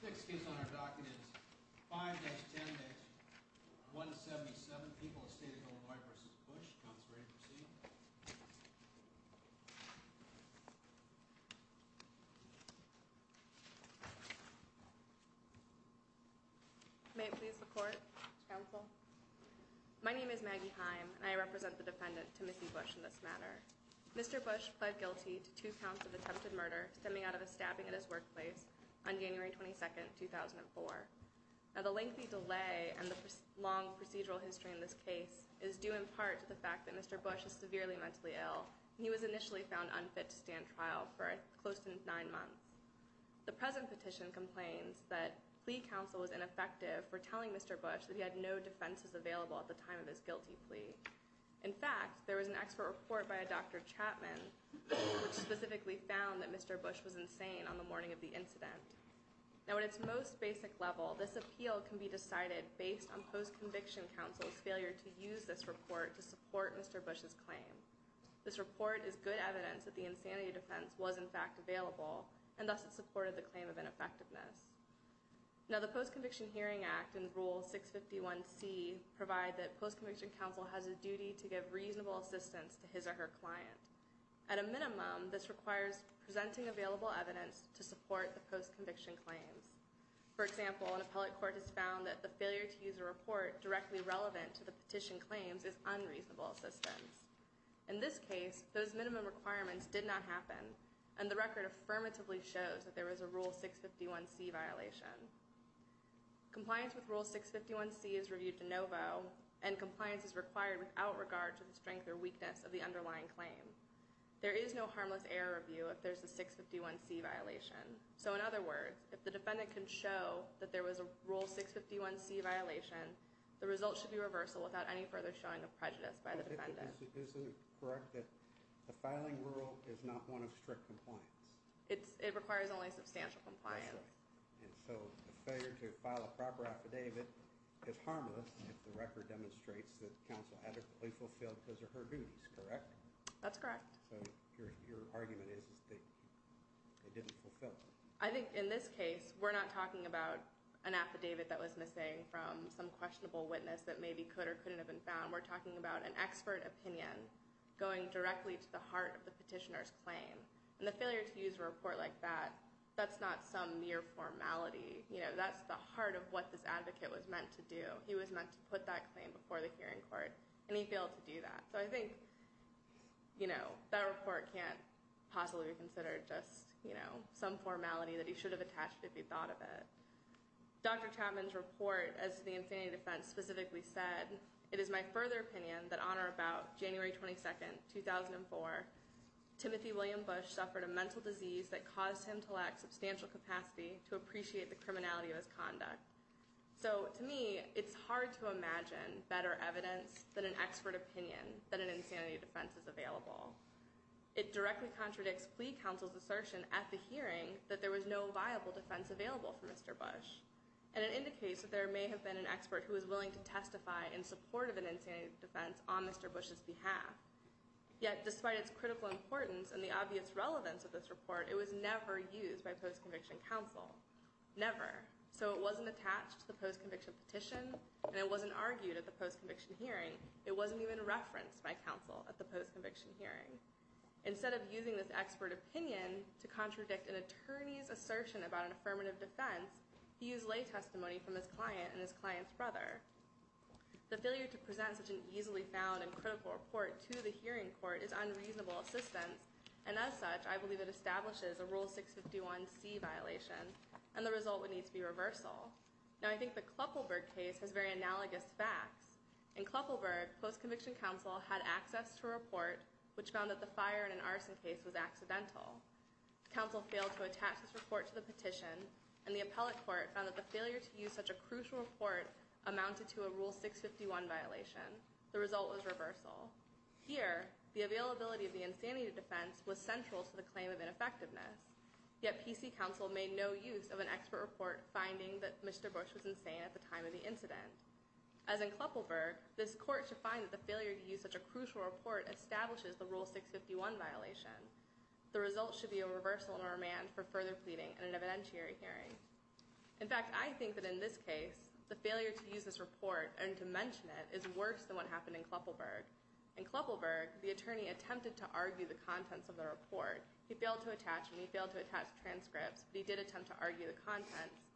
The next case on our docket is 5-10-177, People of State of Illinois v. Bush. Counsel, ready to proceed? May it please the Court? Counsel. My name is Maggie Heim, and I represent the defendant, Timothy Bush, in this matter. Mr. Bush pled guilty to two counts of attempted murder stemming out of a stabbing at his workplace on January 22, 2004. Now, the lengthy delay and the long procedural history in this case is due in part to the fact that Mr. Bush is severely mentally ill, and he was initially found unfit to stand trial for close to nine months. The present petition complains that plea counsel was ineffective for telling Mr. Bush that he had no defenses available at the time of his guilty plea. In fact, there was an expert report by a Dr. Chapman which specifically found that Mr. Bush was insane on the morning of the incident. Now, at its most basic level, this appeal can be decided based on post-conviction counsel's failure to use this report to support Mr. Bush's claim. This report is good evidence that the insanity defense was, in fact, available, and thus it supported the claim of ineffectiveness. Now, the Post-Conviction Hearing Act and Rule 651C provide that post-conviction counsel has a duty to give reasonable assistance to his or her client. At a minimum, this requires presenting available evidence to support the post-conviction claims. For example, an appellate court has found that the failure to use a report directly relevant to the petition claims is unreasonable assistance. In this case, those minimum requirements did not happen, and the record affirmatively shows that there was a Rule 651C violation. Compliance with Rule 651C is reviewed de novo, and compliance is required without regard to the strength or weakness of the underlying claim. There is no harmless error review if there's a 651C violation. So, in other words, if the defendant can show that there was a Rule 651C violation, the result should be reversal without any further showing of prejudice by the defendant. Is it correct that the filing rule is not one of strict compliance? It requires only substantial compliance. And so, the failure to file a proper affidavit is harmless if the record demonstrates that counsel adequately fulfilled his or her duties, correct? That's correct. So, your argument is that they didn't fulfill them? I think, in this case, we're not talking about an affidavit that was missing from some questionable witness that maybe could or couldn't have been found. We're talking about an expert opinion going directly to the heart of the petitioner's claim. And the failure to use a report like that, that's not some mere formality. You know, that's the heart of what this advocate was meant to do. He was meant to put that claim before the hearing court, and he failed to do that. So, I think, you know, that report can't possibly be considered just, you know, some formality that he should have attached if he thought of it. Dr. Chapman's report as to the insanity defense specifically said, it is my further opinion that on or about January 22nd, 2004, Timothy William Bush suffered a mental disease that caused him to lack substantial capacity to appreciate the criminality of his conduct. So, to me, it's hard to imagine better evidence than an expert opinion that an insanity defense is available. It directly contradicts plea counsel's assertion at the hearing that there was no viable defense available for Mr. Bush. And it indicates that there may have been an expert who was willing to testify in support of an insanity defense on Mr. Bush's behalf. Yet, despite its critical importance and the obvious relevance of this report, it was never used by post-conviction counsel. Never. So, it wasn't attached to the post-conviction petition, and it wasn't argued at the post-conviction hearing. It wasn't even referenced by counsel at the post-conviction hearing. Instead of using this expert opinion to contradict an attorney's assertion about an affirmative defense, he used lay testimony from his client and his client's brother. The failure to present such an easily found and critical report to the hearing court is unreasonable assistance, and as such, I believe it establishes a Rule 651C violation, and the result would need to be reversal. Now, I think the Kluppelberg case has very analogous facts. In Kluppelberg, post-conviction counsel had access to a report which found that the fire in an arson case was accidental. Counsel failed to attach this report to the petition, and the appellate court found that the failure to use such a crucial report amounted to a Rule 651 violation. The result was reversal. Here, the availability of the insanity defense was central to the claim of ineffectiveness, yet PC counsel made no use of an expert report finding that Mr. Bush was insane at the time of the incident. As in Kluppelberg, this court should find that the failure to use such a crucial report establishes the Rule 651 violation. The result should be a reversal and a remand for further pleading in an evidentiary hearing. In fact, I think that in this case, the failure to use this report and to mention it is worse than what happened in Kluppelberg. In Kluppelberg, the attorney attempted to argue the contents of the report. He failed to attach and he failed to attach transcripts, but he did attempt to argue the contents.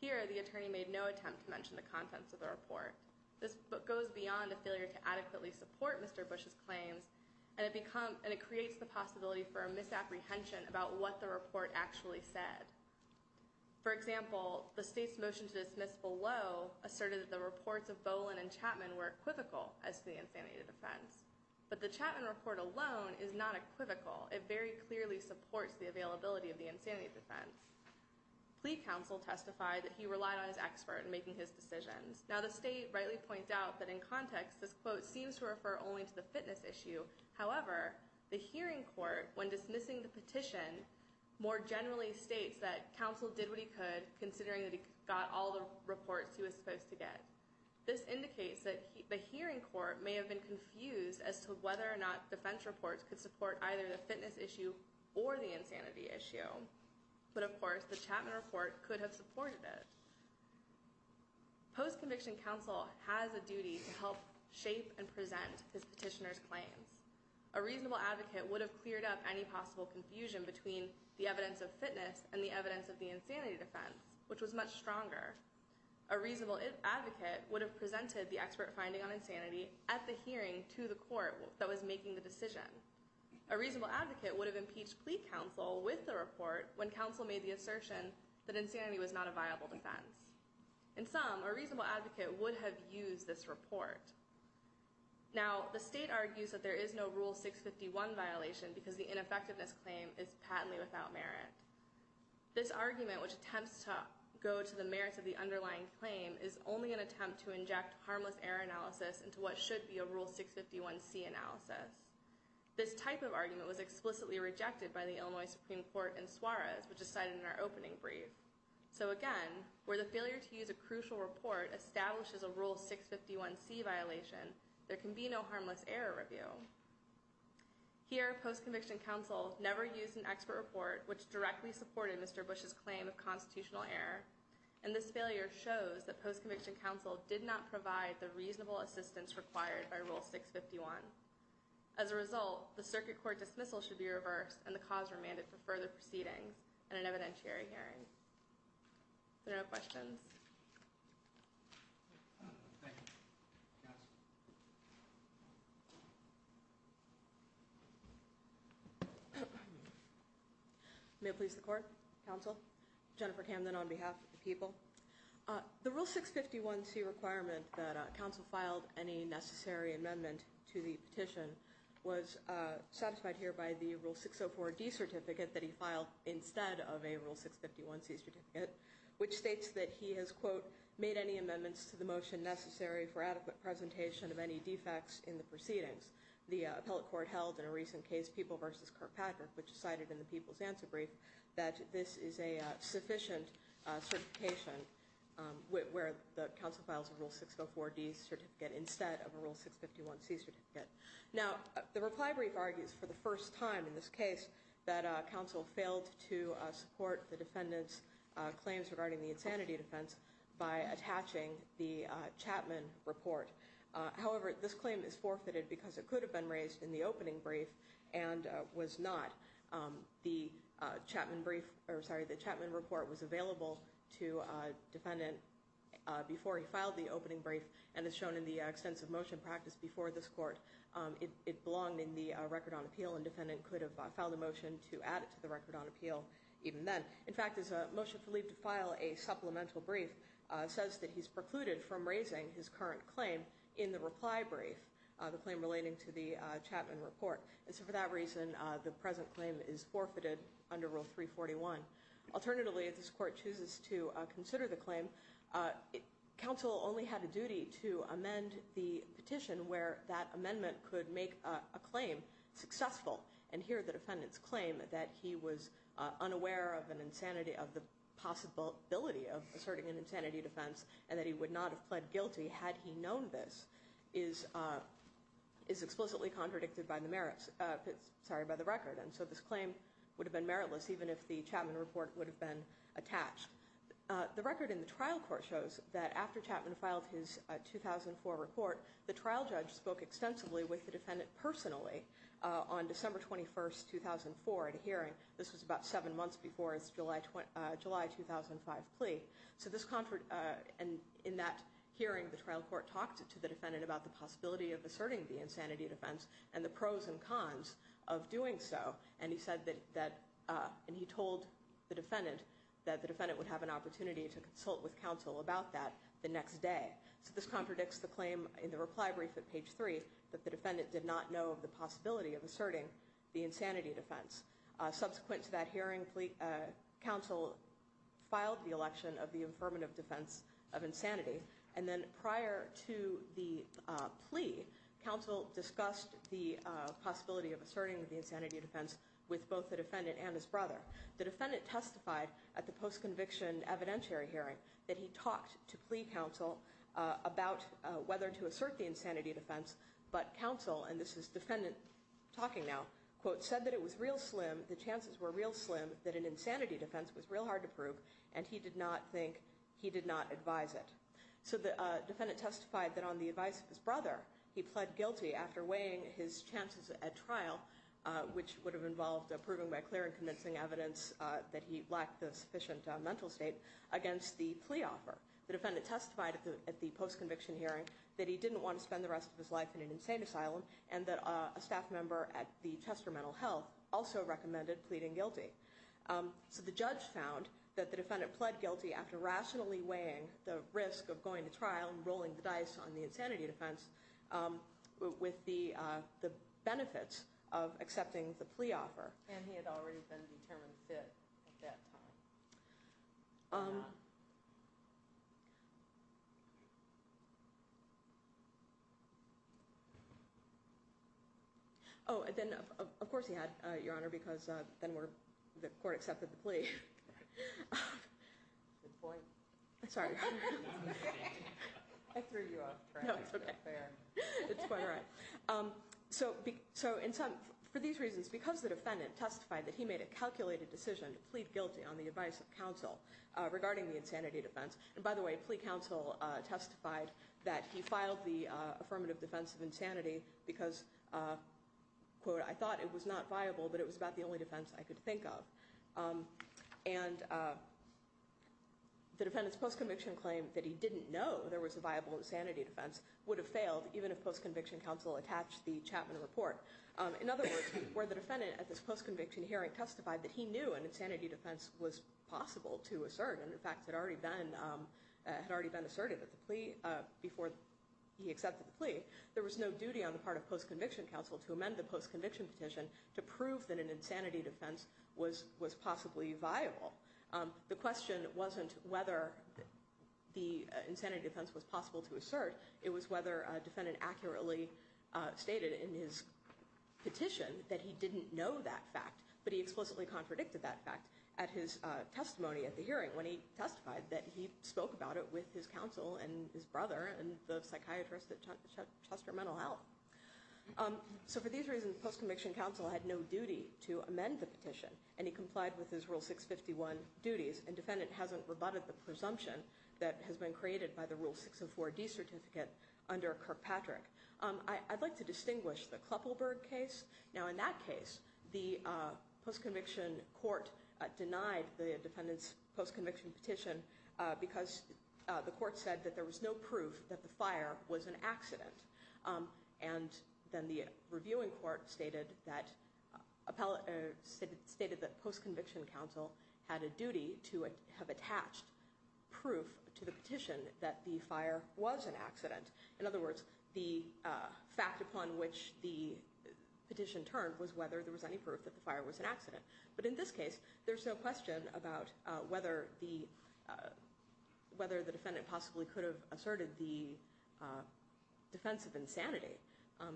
Here, the attorney made no attempt to mention the contents of the report. This goes beyond a failure to adequately support Mr. Bush's claims, and it creates the possibility for a misapprehension about what the report actually said. For example, the state's motion to dismiss below asserted that the reports of Bolin and Chapman were equivocal as to the insanity defense, but the Chapman report alone is not equivocal. It very clearly supports the availability of the insanity defense. Plead counsel testified that he relied on his expert in making his decisions. Now, the state rightly points out that in context, this quote seems to refer only to the fitness issue. However, the hearing court, when dismissing the petition, more generally states that counsel did what he could, considering that he got all the reports he was supposed to get. This indicates that the hearing court may have been confused as to whether or not defense reports could support either the fitness issue or the insanity issue. But, of course, the Chapman report could have supported it. Post-conviction counsel has a duty to help shape and present his petitioner's claims. A reasonable advocate would have cleared up any possible confusion between the evidence of fitness and the evidence of the insanity defense, which was much stronger. A reasonable advocate would have presented the expert finding on insanity at the hearing to the court that was making the decision. A reasonable advocate would have impeached plea counsel with the report when counsel made the assertion that insanity was not a viable defense. In sum, a reasonable advocate would have used this report. Now, the state argues that there is no Rule 651 violation because the ineffectiveness claim is patently without merit. This argument, which attempts to go to the merits of the underlying claim, is only an attempt to inject harmless error analysis into what should be a Rule 651C analysis. This type of argument was explicitly rejected by the Illinois Supreme Court in Suarez, which is cited in our opening brief. So, again, where the failure to use a crucial report establishes a Rule 651C violation, there can be no harmless error review. Here, post-conviction counsel never used an expert report which directly supported Mr. Bush's claim of constitutional error. And this failure shows that post-conviction counsel did not provide the reasonable assistance required by Rule 651. As a result, the circuit court dismissal should be reversed, and the cause remanded for further proceedings and an evidentiary hearing. Are there no questions? Thank you. Counsel. May it please the Court, Counsel, Jennifer Camden on behalf of the people. The Rule 651C requirement that counsel filed any necessary amendment to the petition was satisfied here by the Rule 604D certificate that he filed instead of a Rule 651C certificate, which states that he has, quote, made any amendments to the motion necessary for adequate presentation of any defects in the proceedings. The appellate court held in a recent case, People v. Kirkpatrick, which is cited in the People's Answer Brief, that this is a sufficient certification where the counsel files a Rule 604D certificate instead of a Rule 651C certificate. Now, the reply brief argues for the first time in this case that counsel failed to support the defendant's claims regarding the insanity defense by attaching the Chapman report. However, this claim is forfeited because it could have been raised in the opening brief and was not. The Chapman report was available to defendant before he filed the opening brief and is shown in the extensive motion practice before this court. It belonged in the record on appeal and defendant could have filed a motion to add it to the record on appeal even then. In fact, as a motion for leave to file a supplemental brief says that he's precluded from raising his current claim in the reply brief, the claim relating to the Chapman report. And so for that reason, the present claim is forfeited under Rule 341. Alternatively, if this court chooses to consider the claim, counsel only had a duty to amend the petition where that amendment could make a claim successful. And here the defendant's claim that he was unaware of the possibility of asserting an insanity defense and that he would not have pled guilty had he known this is explicitly contradicted by the record. And so this claim would have been meritless even if the Chapman report would have been attached. The record in the trial court shows that after Chapman filed his 2004 report, the trial judge spoke extensively with the defendant personally on December 21st, 2004 at a hearing. This was about seven months before his July 2005 plea. So in that hearing, the trial court talked to the defendant about the possibility of asserting the insanity defense and the pros and cons of doing so. And he said that and he told the defendant that the defendant would have an opportunity to consult with counsel about that the next day. So this contradicts the claim in the reply brief at page three that the defendant did not know of the possibility of asserting the insanity defense. Subsequent to that hearing, counsel filed the election of the affirmative defense of insanity. And then prior to the plea, counsel discussed the possibility of asserting the insanity defense with both the defendant and his brother. The defendant testified at the post-conviction evidentiary hearing that he talked to plea counsel about whether to assert the insanity defense. But counsel, and this is defendant talking now, quote, said that it was real slim, the chances were real slim that an insanity defense was real hard to prove. And he did not think he did not advise it. So the defendant testified that on the advice of his brother, he pled guilty after weighing his chances at trial, which would have involved proving by clear and convincing evidence that he lacked the sufficient mental state against the plea offer. The defendant testified at the post-conviction hearing that he didn't want to spend the rest of his life in an insane asylum and that a staff member at the Chester Mental Health also recommended pleading guilty. So the judge found that the defendant pled guilty after rationally weighing the risk of going to trial and rolling the dice on the insanity defense with the benefits of accepting the plea offer. And he had already been determined fit at that time. Oh, and then of course he had, Your Honor, because then the court accepted the plea. Good point. Sorry. I threw you off track. No, it's okay. Fair. It's quite all right. So for these reasons, because the defendant testified that he made a calculated decision to plead guilty on the advice of counsel regarding the insanity defense, and by the way, plea counsel testified that he filed the affirmative defense of insanity because, quote, I thought it was not viable, but it was about the only defense I could think of. And the defendant's post-conviction claim that he didn't know there was a viable insanity defense would have failed even if post-conviction counsel attached the Chapman report. In other words, where the defendant at this post-conviction hearing testified that he knew an insanity defense was possible to assert and, in fact, had already been asserted at the plea before he accepted the plea, there was no duty on the part of post-conviction counsel to amend the post-conviction petition to prove that an insanity defense was possibly viable. The question wasn't whether the insanity defense was possible to assert. It was whether a defendant accurately stated in his petition that he didn't know that fact, but he explicitly contradicted that fact at his testimony at the hearing when he testified that he spoke about it with his counsel and his brother and the psychiatrist at Chester Mental Health. So for these reasons, post-conviction counsel had no duty to amend the petition, and he complied with his Rule 651 duties, and the defendant hasn't rebutted the presumption that has been created by the Rule 604D certificate under Kirkpatrick. I'd like to distinguish the Kleppelberg case. Now, in that case, the post-conviction court denied the defendant's post-conviction petition because the court said that there was no proof that the fire was an accident. And then the reviewing court stated that post-conviction counsel had a duty to have attached proof to the petition that the fire was an accident. In other words, the fact upon which the petition turned was whether there was any proof that the fire was an accident. But in this case, there's no question about whether the defendant possibly could have asserted the defense of insanity.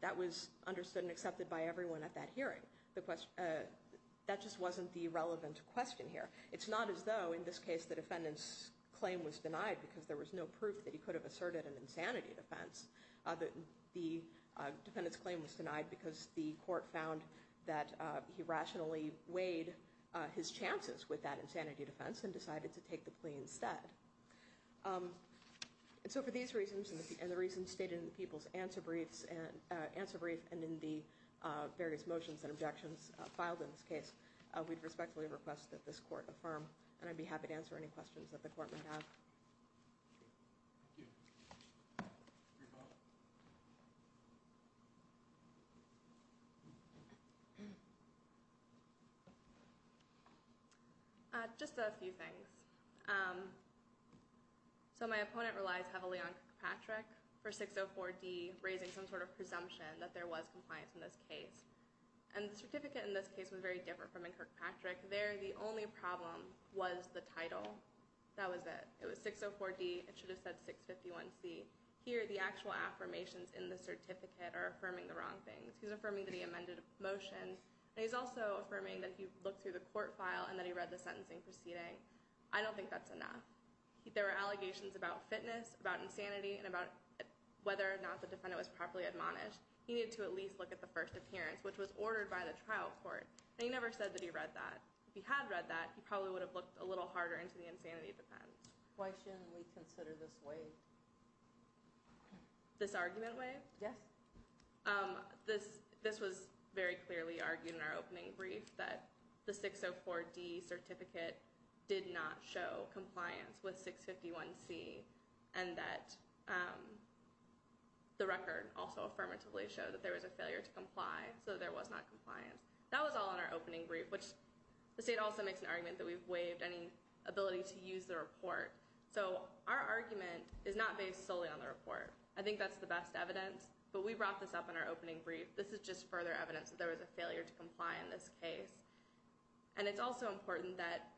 That was understood and accepted by everyone at that hearing. That just wasn't the relevant question here. It's not as though in this case the defendant's claim was denied because there was no proof that he could have asserted an insanity defense. The defendant's claim was denied because the court found that he rationally weighed his chances with that insanity defense and decided to take the plea instead. And so for these reasons and the reasons stated in the people's answer brief and in the various motions and objections filed in this case, we'd respectfully request that this court affirm. And I'd be happy to answer any questions that the court may have. Thank you. Just a few things. So my opponent relies heavily on Kirkpatrick for 604D, raising some sort of presumption that there was compliance in this case. And the certificate in this case was very different from in Kirkpatrick. There the only problem was the title. That was it. It was 604D. It should have said 651C. Here the actual affirmations in the certificate are affirming the wrong things. He's affirming the amended motion. And he's also affirming that he looked through the court file and that he read the sentencing proceeding. I don't think that's enough. There were allegations about fitness, about insanity, and about whether or not the defendant was properly admonished. He needed to at least look at the first appearance, which was ordered by the trial court. And he never said that he read that. If he had read that, he probably would have looked a little harder into the insanity defense. Why shouldn't we consider this waive? This argument waive? Yes. This was very clearly argued in our opening brief that the 604D certificate did not show compliance with 651C and that the record also affirmatively showed that there was a failure to comply, so there was not compliance. That was all in our opening brief, which the state also makes an argument that we've waived any ability to use the report. So our argument is not based solely on the report. I think that's the best evidence. But we brought this up in our opening brief. This is just further evidence that there was a failure to comply in this case. And it's also important that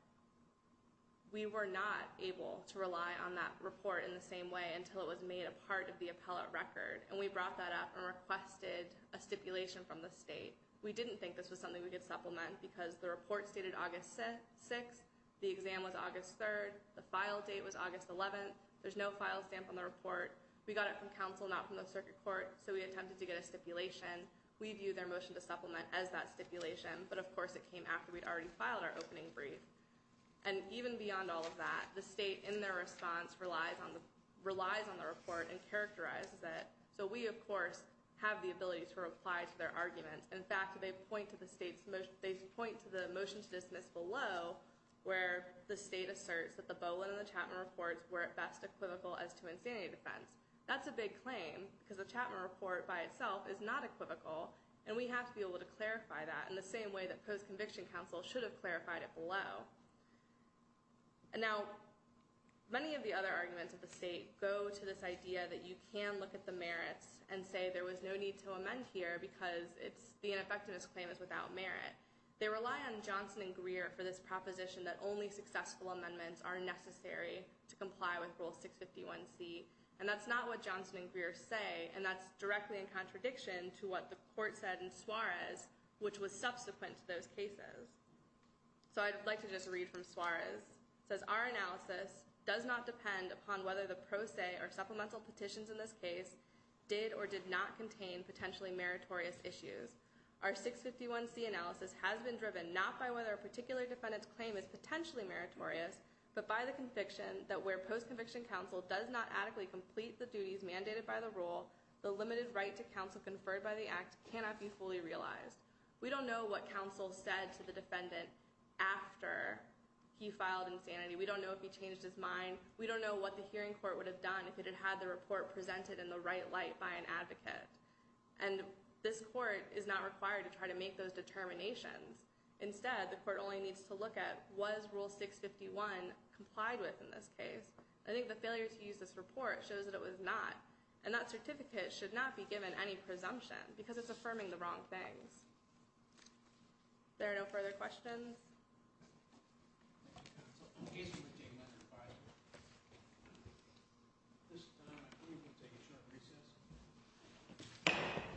we were not able to rely on that report in the same way until it was made a part of the appellate record. And we brought that up and requested a stipulation from the state. We didn't think this was something we could supplement because the report stated August 6th. The exam was August 3rd. The file date was August 11th. There's no file stamp on the report. We got it from counsel, not from the circuit court, so we attempted to get a stipulation. We view their motion to supplement as that stipulation, but, of course, it came after we'd already filed our opening brief. And even beyond all of that, the state in their response relies on the report and characterizes it. So we, of course, have the ability to reply to their arguments. In fact, they point to the motion to dismiss below where the state asserts that the Bolin and the Chapman reports were at best equivocal as to insanity defense. That's a big claim because the Chapman report by itself is not equivocal, and we have to be able to clarify that in the same way that post-conviction counsel should have clarified it below. Now, many of the other arguments of the state go to this idea that you can look at the merits and say there was no need to amend here because the ineffectiveness claim is without merit. They rely on Johnson and Greer for this proposition that only successful amendments are necessary to comply with Rule 651C. And that's not what Johnson and Greer say, and that's directly in contradiction to what the court said in Suarez, which was subsequent to those cases. So I'd like to just read from Suarez. It says, our analysis does not depend upon whether the pro se or supplemental petitions in this case did or did not contain potentially meritorious issues. Our 651C analysis has been driven not by whether a particular defendant's claim is potentially meritorious, but by the conviction that where post-conviction counsel does not adequately complete the duties mandated by the rule, the limited right to counsel conferred by the act cannot be fully realized. We don't know what counsel said to the defendant after he filed insanity. We don't know if he changed his mind. We don't know what the hearing court would have done if it had had the report presented in the right light by an advocate. And this court is not required to try to make those determinations. Instead, the court only needs to look at was Rule 651 complied with in this case. I think the failure to use this report shows that it was not. And that certificate should not be given any presumption because it's affirming the wrong things. There are no further questions.